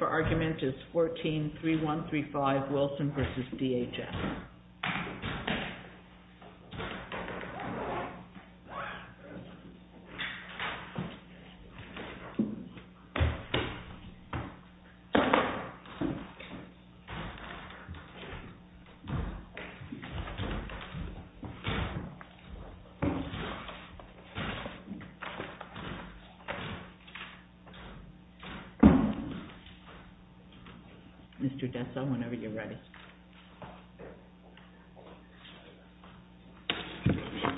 143135 Wilson v. DHS. Mr. Dessa, whenever you're ready.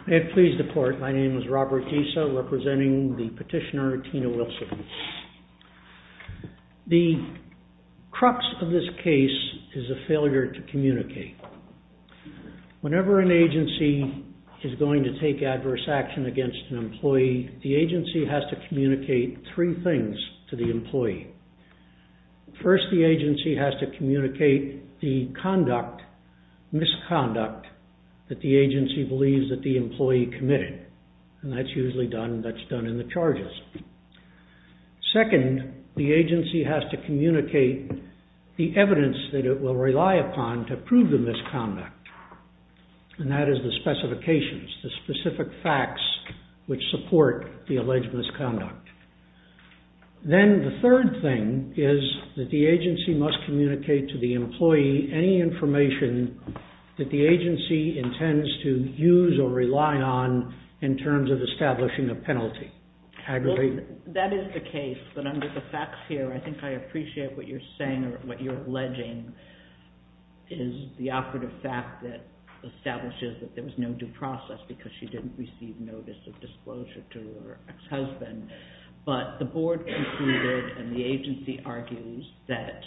May it please the court, my name is Robert Dessa, representing the petitioner Tina Wilson. The crux of this case is a failure to communicate. Whenever an agency is going to take adverse action against an employee, the agency has to communicate three things to the employee. First, the agency has to communicate the conduct, misconduct that the agency believes that the employee committed and that's usually done in the charges. Second, the agency has to communicate the evidence that it will rely upon to prove the misconduct and that is the specifications, the specific facts which support the alleged misconduct. Then, the third thing is that the agency must communicate to the employee any information that the agency intends to use or rely on in terms of establishing a penalty. That is the case, but under the facts here, I think I appreciate what you're saying or what you're alleging is the operative fact that establishes that there was no due process because she didn't receive notice of disclosure to her ex-husband, but the board concluded and the agency argues that,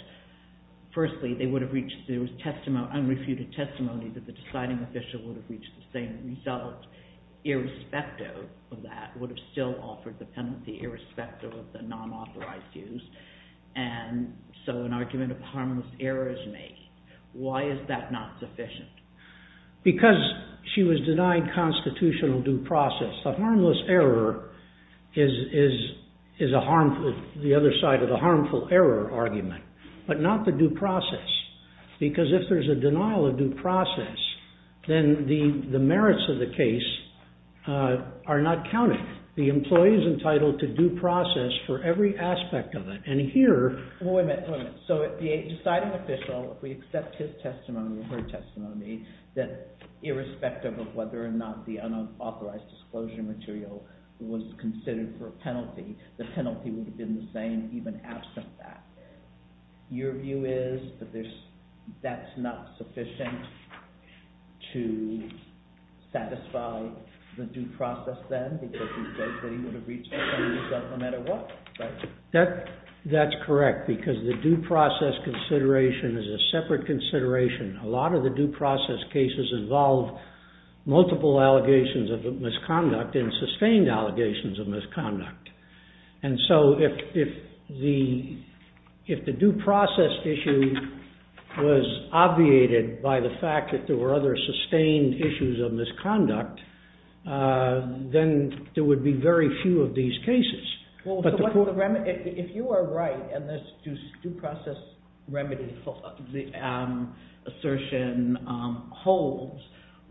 firstly, there was unrefuted testimony that the deciding official would have reached the same result irrespective of that, would have still offered the penalty irrespective of the non-authorized use, and so an argument of harmless error is made. Why is that not sufficient? Because she was denied constitutional due process. The harmless error is the other side of the harmful error argument, but not the due process because if there's a denial of due process, then the merits of the case are not counted. The employee is entitled to due process for every aspect of it, and here... The deciding official, if we accept his testimony or her testimony, that irrespective of whether or not the unauthorized disclosure material was considered for a penalty, the penalty would have been the same even absent that. Your view is that that's not sufficient to satisfy the due process then because he says that he would have reached the same result no matter what, right? That's correct because the due process consideration is a separate consideration. A lot of the due process cases involve multiple allegations of misconduct and sustained allegations of misconduct, and so if the due process issue was obviated by the fact that there were other sustained issues of misconduct, then there would be very few of these cases. If you are right and this due process remedy assertion holds,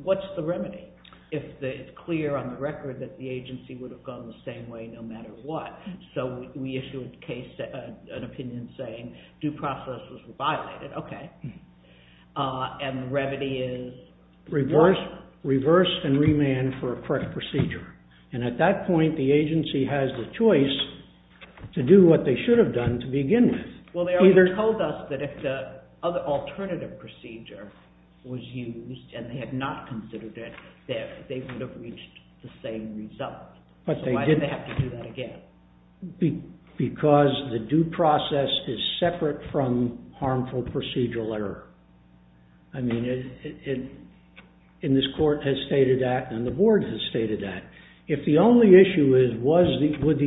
what's the remedy? It's clear on the record that the agency would have gone the same way no matter what, so we issue an opinion saying due process was violated, okay, and the remedy is... Well, they already told us that if the alternative procedure was used and they had not considered it, that they would have reached the same result, so why did they have to do that again? Because the due process is separate from harmful procedural error. I mean, in this court has the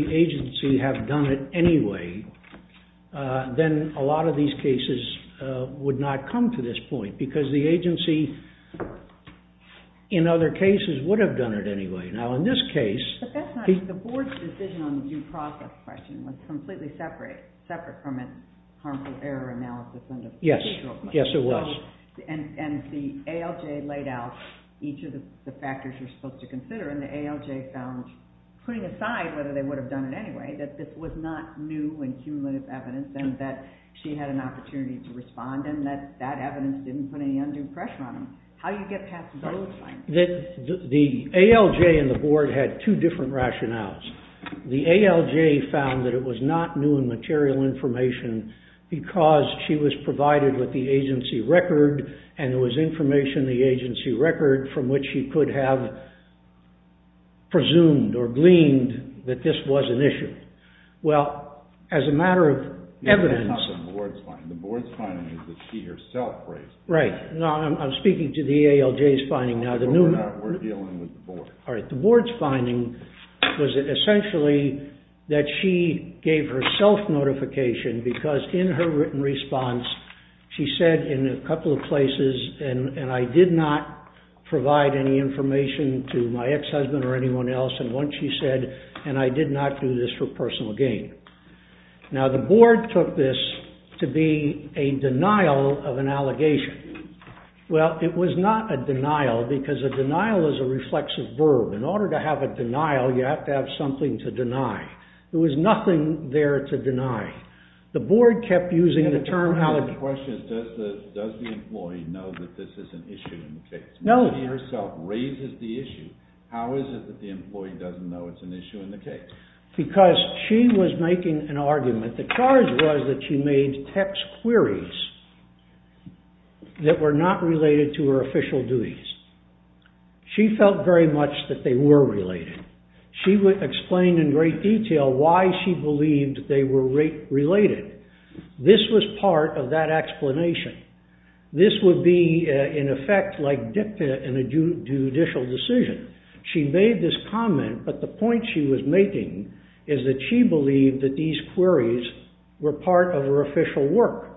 agency have done it anyway, then a lot of these cases would not come to this point because the agency, in other cases, would have done it anyway. Now, in this case... But that's not... The board's decision on the due process question was completely separate from a harmful error analysis under procedural... Yes, yes it was. And the ALJ laid out each of the factors you're supposed to consider and the ALJ found, putting it that way, that this was not new and cumulative evidence and that she had an opportunity to respond and that that evidence didn't put any undue pressure on them. How do you get past those findings? The ALJ and the board had two different rationales. The ALJ found that it was not new and material information because she was provided with the agency record and there was information in the agency record from which she could have presumed or gleaned that this was an issue. Well, as a matter of evidence... Yeah, that's not the board's finding. The board's finding is that she herself raised... Right. No, I'm speaking to the ALJ's finding now. No, we're dealing with the board. All right. The board's finding was essentially that she gave herself notification because in her written response, she said in a couple of places, and I did not provide any information to my ex-husband or anyone else, and once she said, and I did not do this for personal gain. Now, the board took this to be a denial of an allegation. Well, it was not a denial because a denial is a reflexive verb. In order to have a denial, you have to have something to deny. There was nothing there to deny. The board kept using the term allegation. My question is, does the employee know that this is an issue in the case? No. She herself raises the issue. How is it that the employee doesn't know it's an issue in the case? Because she was making an argument. The charge was that she made text queries that were not explained in great detail why she believed they were related. This was part of that explanation. This would be, in effect, like dicta in a judicial decision. She made this comment, but the point she was making is that she believed that these queries were part of her official work.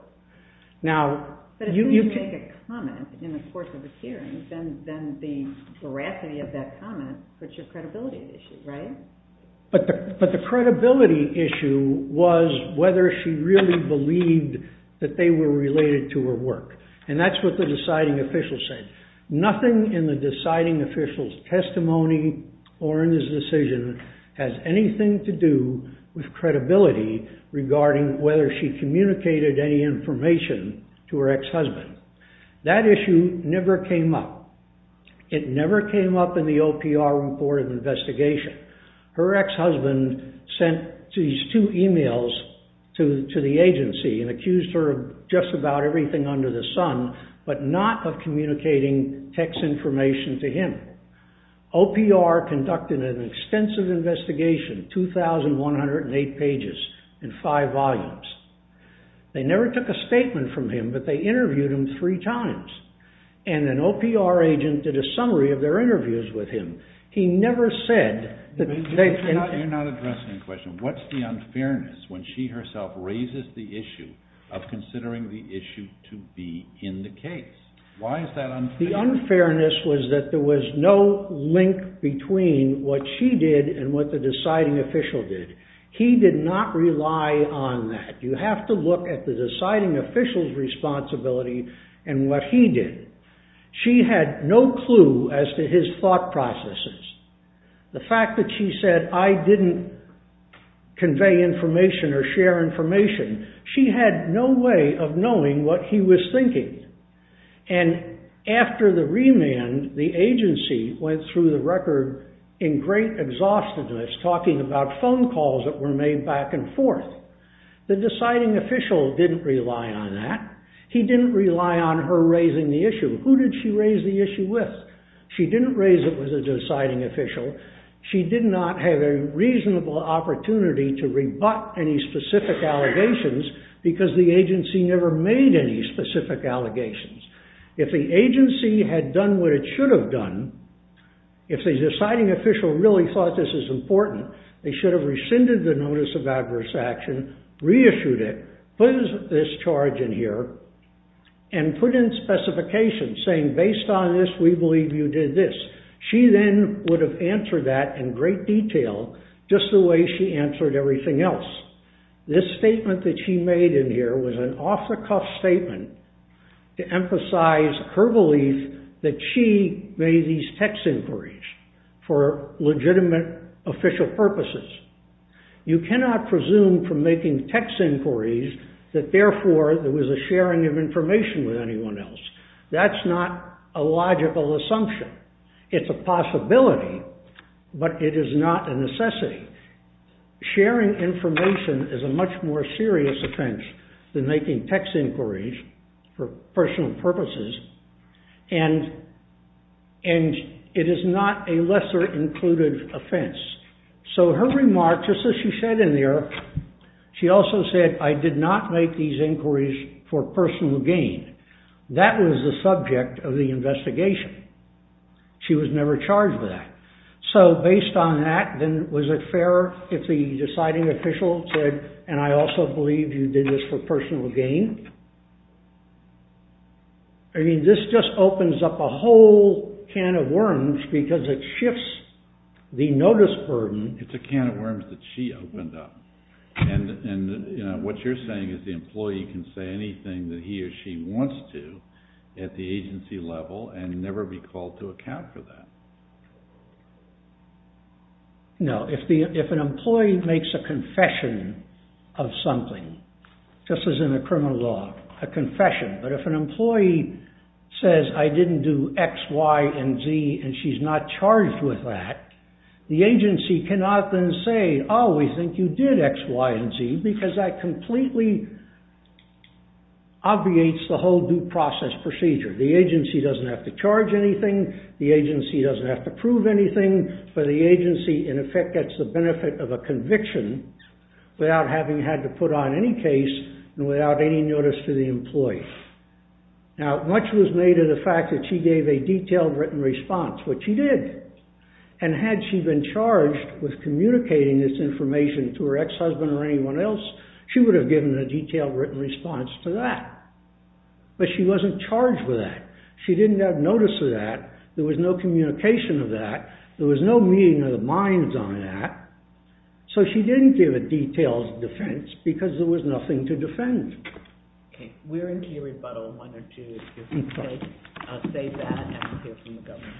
But if you make a comment in the course of a hearing, then the veracity of that comment puts your credibility at issue, right? But the credibility issue was whether she really believed that they were related to her work. And that's what the deciding official said. Nothing in the deciding official's testimony or in his decision has anything to do with credibility regarding whether she communicated any information to her ex-husband. That issue never came up. It never came up in the OPR report of investigation. Her ex-husband sent these two emails to the agency and accused her of just about everything under the sun, but not of communicating text information to him. OPR conducted an extensive investigation, 2,108 pages and five volumes. They never took a statement from him, but they interviewed him three times. And an OPR agent did a summary of their interviews with him. He never said that they... You're not addressing the question. What's the unfairness when she herself raises the issue of considering the issue to be in the case? Why is that unfair? The unfairness was that there was no link between what she did and what the deciding official did. He did not rely on that. You have to look at the deciding official's responsibility and what he did. She had no clue as to his thought processes. The fact that she said, I didn't convey information or share information, she had no way of knowing what he was thinking. And after the remand, the agency went through the record in great exhaustedness talking about phone calls that were made back and forth. The deciding official didn't rely on that. He didn't rely on her raising the issue. Who did she raise the issue with? She didn't raise it with a deciding official. She did not have a reasonable opportunity to rebut any specific allegations because the agency never made any specific allegations. If the agency had done what it should have done, if the deciding official really thought this is important, they should have rescinded the notice of adverse action, reissued it, put this charge in here, and put in specifications saying, based on this, we believe you did this. She then would have answered that in great detail just the way she answered everything else. This statement that she made in here was an off-the-cuff statement to emphasize her belief that she made these text inquiries for legitimate official purposes. You cannot presume from making text inquiries that, therefore, there was a sharing of information with anyone else. That's not a logical assumption. It's a possibility, but it is not a necessity. Sharing information is a much more serious offense than making text inquiries for personal purposes, and it is not a lesser-included offense. So her remark, just as she said in there, she also said, I did not make these inquiries for personal gain. That was the subject of the investigation. She was never charged with that. So, based on that, then, was it fair if the deciding official said, and I also believe you did this for personal gain? I mean, this just opens up a whole can of worms because it shifts the notice burden. It's a can of worms that she opened up, and what you're saying is the employee can say anything that he or she wants to at the agency level and never be called to account for that. No. If an employee makes a confession of something, just as in a criminal law, a confession, but if an employee says, I didn't do X, Y, and Z, and she's not charged with that, the judge would not then say, oh, we think you did X, Y, and Z, because that completely obviates the whole due process procedure. The agency doesn't have to charge anything, the agency doesn't have to prove anything, but the agency, in effect, gets the benefit of a conviction without having had to put on any case and without any notice to the employee. Now, much was made of the fact that she gave a detailed written response, which she did, and had she been charged with communicating this information to her ex-husband or anyone else, she would have given a detailed written response to that, but she wasn't charged with that. She didn't have notice of that, there was no communication of that, there was no meeting of the minds on that, so she didn't give a detailed defense because there was nothing to defend. Okay, we're into your rebuttal in one or two minutes. I'll save that and we'll hear from the Governor.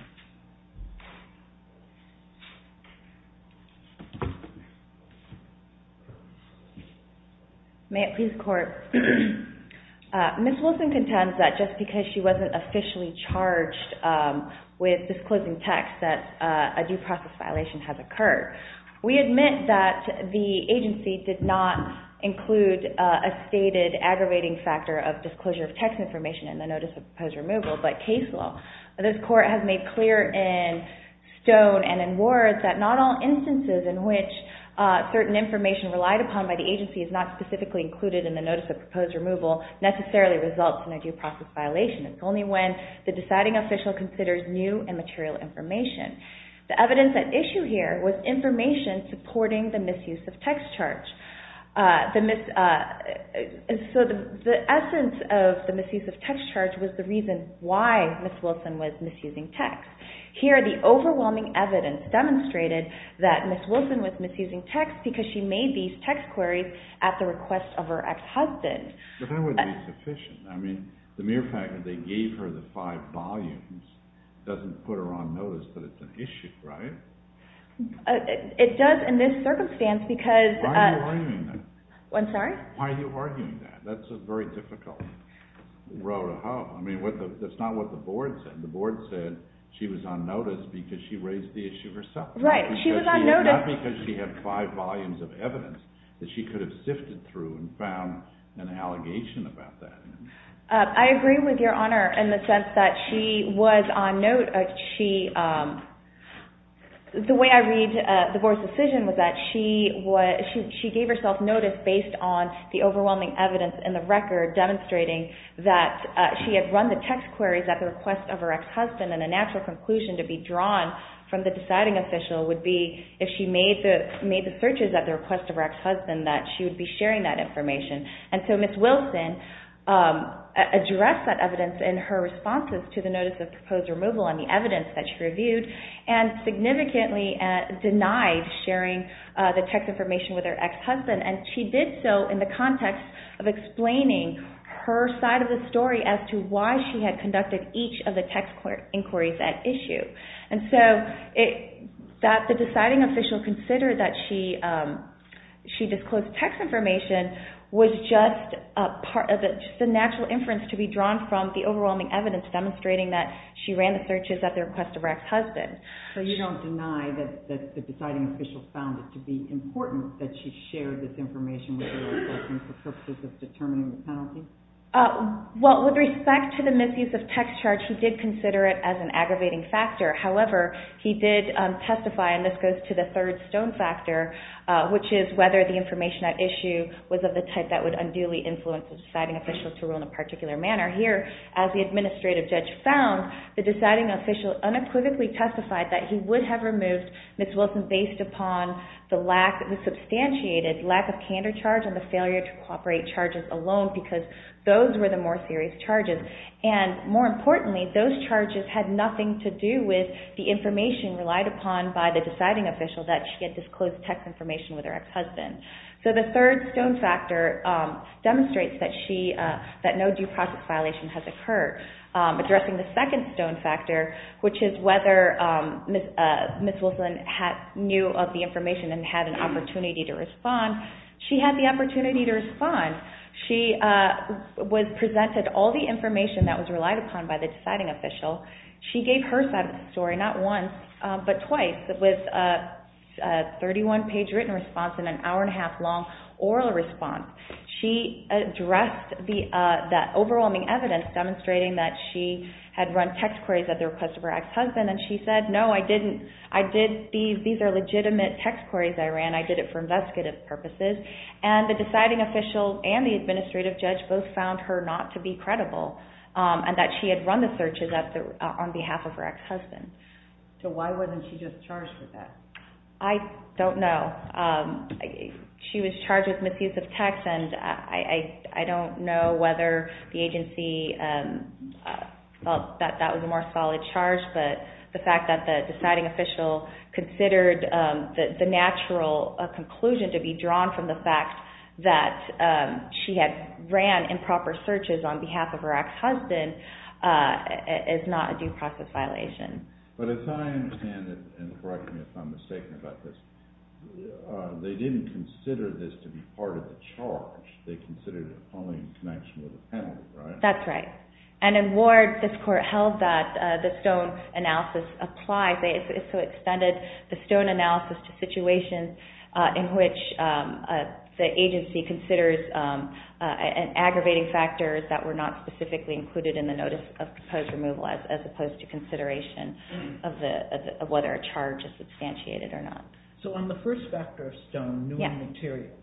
May it please the Court. Ms. Wilson contends that just because she wasn't officially charged with disclosing text that a due process violation has occurred. We admit that the agency did not include a stated aggravating factor of disclosure of text information in the Notice of Proposed Removal, but case law. This Court has made clear in stone and in words that not all instances in which certain information relied upon by the agency is not specifically included in the Notice of Proposed Removal necessarily results in a due process violation. It's only when the deciding official considers new and material information. The evidence at issue here was information supporting the misuse of text charge. So the essence of the misuse of text charge was the reason why Ms. Wilson was misusing text. Here the overwhelming evidence demonstrated that Ms. Wilson was misusing text because she made these text queries at the request of her ex-husband. But that wouldn't be sufficient. I mean, the mere fact that they gave her the five volumes doesn't put her on notice that it's an issue, right? It does in this circumstance because... Why are you arguing that? I'm sorry? Why are you arguing that? That's a very difficult row to hoe. I mean, that's not what the board said. The board said she was on notice because she raised the issue herself. Right. She was on notice... Not because she had five volumes of evidence that she could have sifted through and found an allegation about that. I agree with Your Honor in the sense that she was on note. The way I read the board's decision was that she gave herself notice based on the overwhelming evidence in the record demonstrating that she had run the text queries at the request of her ex-husband and a natural conclusion to be drawn from the deciding official would be if she made the searches at the request of her ex-husband that she would be sharing that information. And so Ms. Wilson addressed that evidence in her responses to the notice of proposed removal and the evidence that she reviewed and significantly denied sharing the text information with her ex-husband. And she did so in the context of explaining her side of the story as to why she had conducted each of the text inquiries at issue. And so that the deciding official considered that she disclosed text information was just a natural inference to be drawn from the overwhelming evidence demonstrating that she ran the searches at the request of her ex-husband. So you don't deny that the deciding official found it to be important that she shared this information with her ex-husband for purposes of determining the penalty? Well, with respect to the misuse of text charge, he did consider it as an aggravating factor. However, he did testify, and this goes to the third stone factor, which is whether the information at issue was of the type that would unduly influence the deciding official to rule in a particular manner. Here, as the administrative judge found, the deciding official unequivocally testified that he would have removed Ms. Wilson based upon the lack, the substantiated lack of candor in the charge and the failure to cooperate charges alone because those were the more serious charges. And more importantly, those charges had nothing to do with the information relied upon by the deciding official that she had disclosed text information with her ex-husband. So the third stone factor demonstrates that no due process violation has occurred. Addressing the second stone factor, which is whether Ms. Wilson knew of the information and had an opportunity to respond, she had the opportunity to respond. She presented all the information that was relied upon by the deciding official. She gave her side of the story, not once, but twice, with a 31-page written response and an hour-and-a-half-long oral response. She addressed that overwhelming evidence demonstrating that she had run text queries at the request of her ex-husband, and she said, no, I didn't. These are legitimate text queries I ran. I did it for investigative purposes. And the deciding official and the administrative judge both found her not to be credible and that she had run the searches on behalf of her ex-husband. So why wasn't she just charged with that? I don't know. She was charged with misuse of text, and I don't know whether the agency felt that that was a more solid charge, but the fact that the deciding official considered the natural conclusion to be drawn from the fact that she had ran improper searches on behalf of her ex-husband is not a due process violation. But as I understand it, and correct me if I'm mistaken about this, they didn't consider this to be part of the charge. They considered it only in connection with the penalty, right? That's right. And in Ward, this Court held that the Stone analysis applies. They also extended the Stone analysis to situations in which the agency considers aggravating factors that were not specifically included in the notice of proposed removal as opposed to consideration of whether a charge is substantiated or not. So on the first factor of Stone, new material,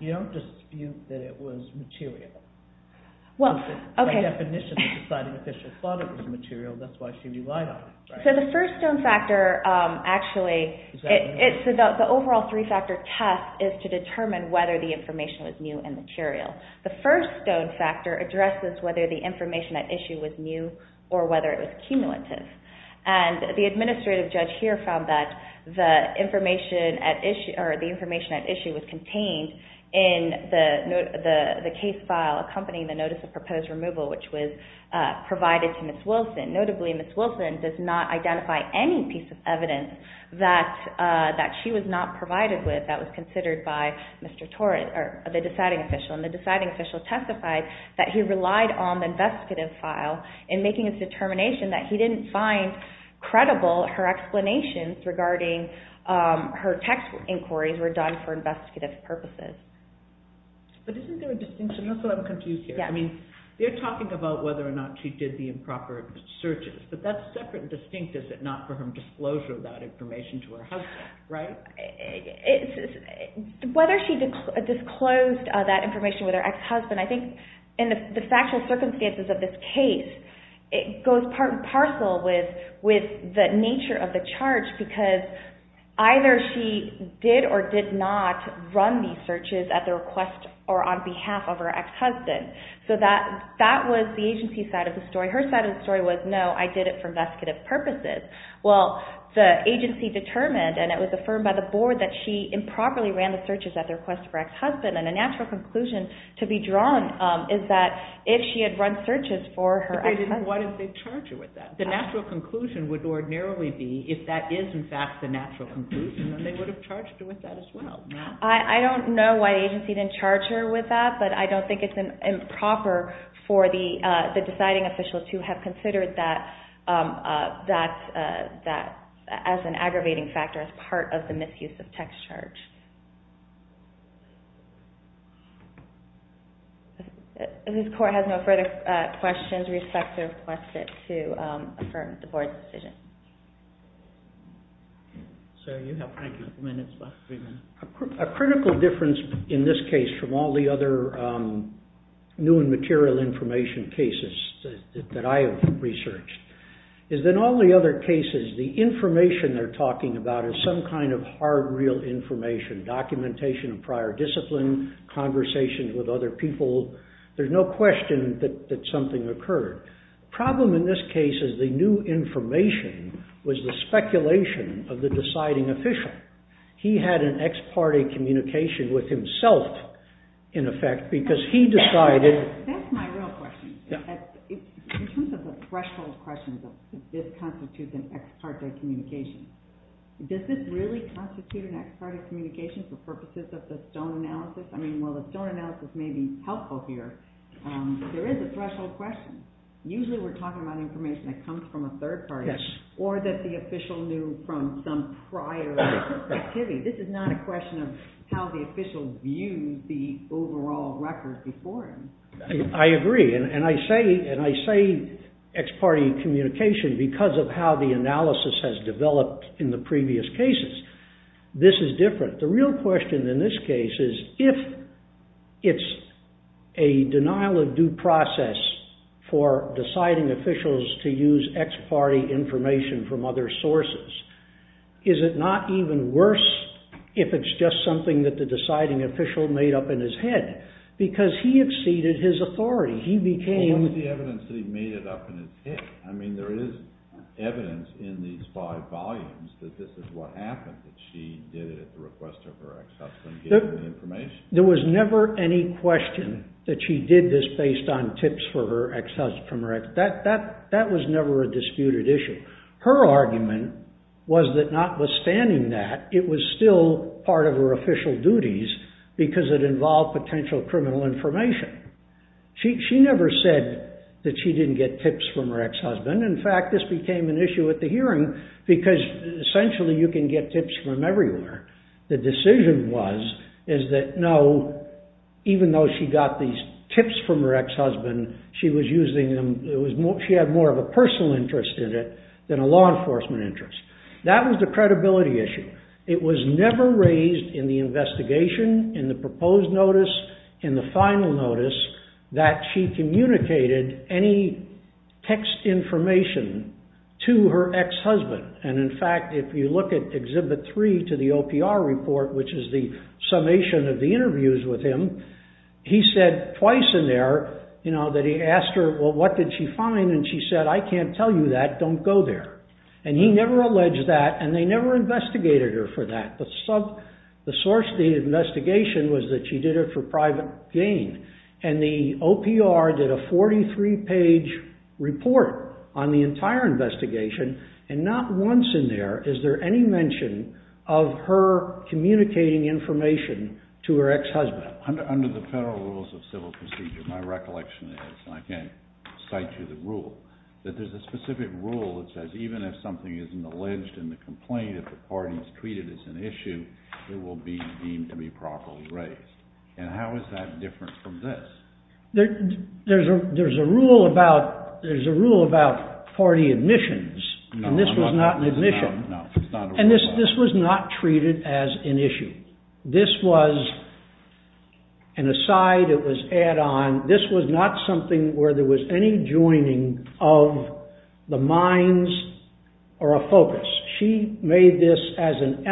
you don't dispute that it was material. By definition, the deciding official thought it was material. That's why she relied on it, right? So the first Stone factor, actually, the overall three-factor test is to determine whether the information was new and material. The first Stone factor addresses whether the information at issue was new or whether it was cumulative, and the administrative judge here found that the information at issue was And that's why she was not putting the notice of proposed removal, which was provided to Ms. Wilson. Notably, Ms. Wilson does not identify any piece of evidence that she was not provided with that was considered by the deciding official. And the deciding official testified that he relied on the investigative file in making his determination that he didn't find credible her explanations regarding her text inquiries were done for investigative purposes. But isn't there a distinction? That's what I'm confused here. I mean, they're talking about whether or not she did the improper searches, but that's separate and distinct, is it not, from her disclosure of that information to her husband, right? Whether she disclosed that information with her ex-husband, I think in the factual circumstances of this case, it goes part and parcel with the nature of the charge because either she did or did not run these searches at the request or on behalf of her ex-husband. So that was the agency's side of the story. Her side of the story was, no, I did it for investigative purposes. Well, the agency determined, and it was affirmed by the board, that she improperly ran the searches at the request of her ex-husband. And the natural conclusion to be drawn is that if she had run searches for her ex-husband Why did they charge her with that? The natural conclusion would ordinarily be, if that is in fact the natural conclusion, then they would have charged her with that as well. I don't know why the agency didn't charge her with that, but I don't think it's improper for the deciding official to have considered that as an aggravating factor as part of the misuse of text charge. This court has no further questions with respect to request it to affirm the board's decision. Sir, you have five minutes left. A critical difference in this case from all the other new and material information cases that I have researched is that in all the other cases, the information they're talking about is some kind of hard, real information, documentation of prior discipline, conversations with other people. There's no question that something occurred. The problem in this case is the new information was the speculation of the deciding official. He had an ex-parte communication with himself, in effect, because he decided That's my real question. In terms of the threshold questions of if this constitutes an ex-parte communication, does this really constitute an ex-parte communication for purposes of the Stone analysis? I mean, while the Stone analysis may be helpful here, there is a threshold question. Usually, we're talking about information that comes from a third party or that the official knew from some prior activity. This is not a question of how the official views the overall record before him. I agree, and I say ex-parte communication because of how the analysis has developed in the previous cases. This is different. The real question in this case is if it's a denial of due process for deciding officials to use ex-parte information from other sources, is it not even worse if it's just something that the deciding official made up in his head? Because he exceeded his authority. He became Well, what's the evidence that he made it up in his head? I mean, there is evidence in these five volumes that this is what happened, that she did it at the request of her ex-husband, given the information. There was never any question that she did this based on tips from her ex-husband. That was never a disputed issue. Her argument was that notwithstanding that, it was still part of her official duties because it involved potential criminal information. She never said that she didn't get tips from her ex-husband. In fact, this became an issue at the hearing because, essentially, you can get tips from everywhere. The decision was that, no, even though she got these tips from her ex-husband, she had more of a personal interest in it than a law enforcement interest. That was the credibility issue. It was never raised in the investigation, in the proposed notice, in the final notice, that she communicated any text information to her ex-husband. In fact, if you look at Exhibit 3 to the OPR report, which is the summation of the interviews with him, he said twice in there that he asked her, well, what did she find? She said, I can't tell you that. Don't go there. He never alleged that, and they never investigated her for that. The source of the investigation was that she did it for private gain. And the OPR did a 43-page report on the entire investigation, and not once in there is there any mention of her communicating information to her ex-husband. Under the federal rules of civil procedure, my recollection is, and I can't cite you the rule, that there's a specific rule that says even if something isn't alleged in the complaint, if the party is treated as an issue, it will be deemed to be properly raised. And how is that different from this? There's a rule about party admissions, and this was not an admission. And this was not treated as an issue. This was an aside. It was add-on. This was not something where there was any joining of the minds or a focus. She made this as an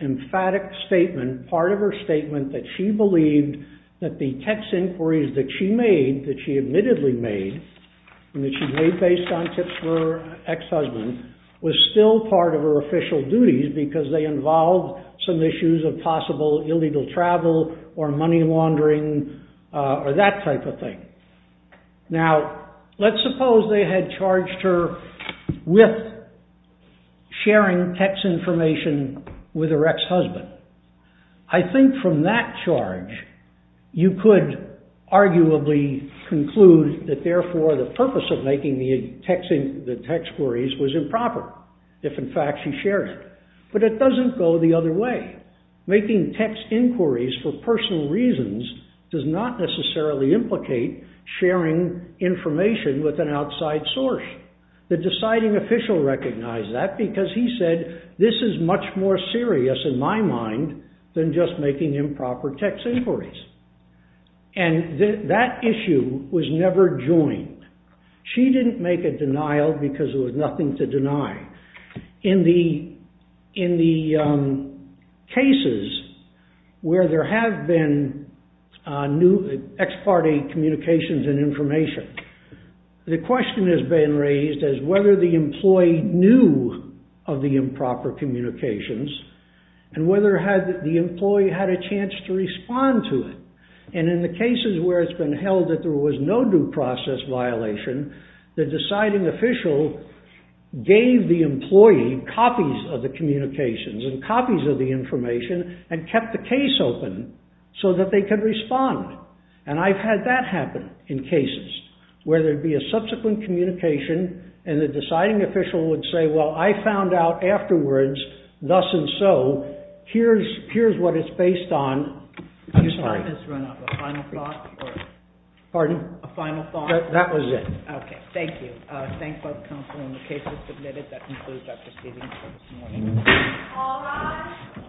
emphatic statement, part of her statement, that she believed that the text inquiries that she made, that she admittedly made, and that she made based on tips from her ex-husband, was still part of her official duties because they involved some issues of possible illegal travel or money laundering or that type of thing. Now, let's suppose they had charged her with sharing text information with her ex-husband. I think from that charge, you could arguably conclude that therefore the purpose of making the text inquiries was improper, if in fact she shared it. But it doesn't go the other way. Making text inquiries for personal reasons does not necessarily implicate sharing information with an outside source. The deciding official recognized that because he said, this is much more serious in my mind than just making improper text inquiries. And that issue was never joined. She didn't make a denial because there was nothing to deny. In the cases where there have been new ex-party communications and information, the question has been raised as whether the employee knew of the improper communications and whether the employee had a chance to respond to it. And in the cases where it's been held that there was no due process violation, the deciding official gave the employee copies of the communications and copies of the information and kept the case open so that they could respond. And I've had that happen in cases where there'd be a subsequent communication and the deciding official would say, well, I found out afterwards, thus and so, here's what it's based on. I'm sorry. The time has run out. A final thought? Pardon? A final thought? That was it. Okay. Thank you. Thank both counsel in the cases submitted. That concludes our proceedings for this morning. All rise.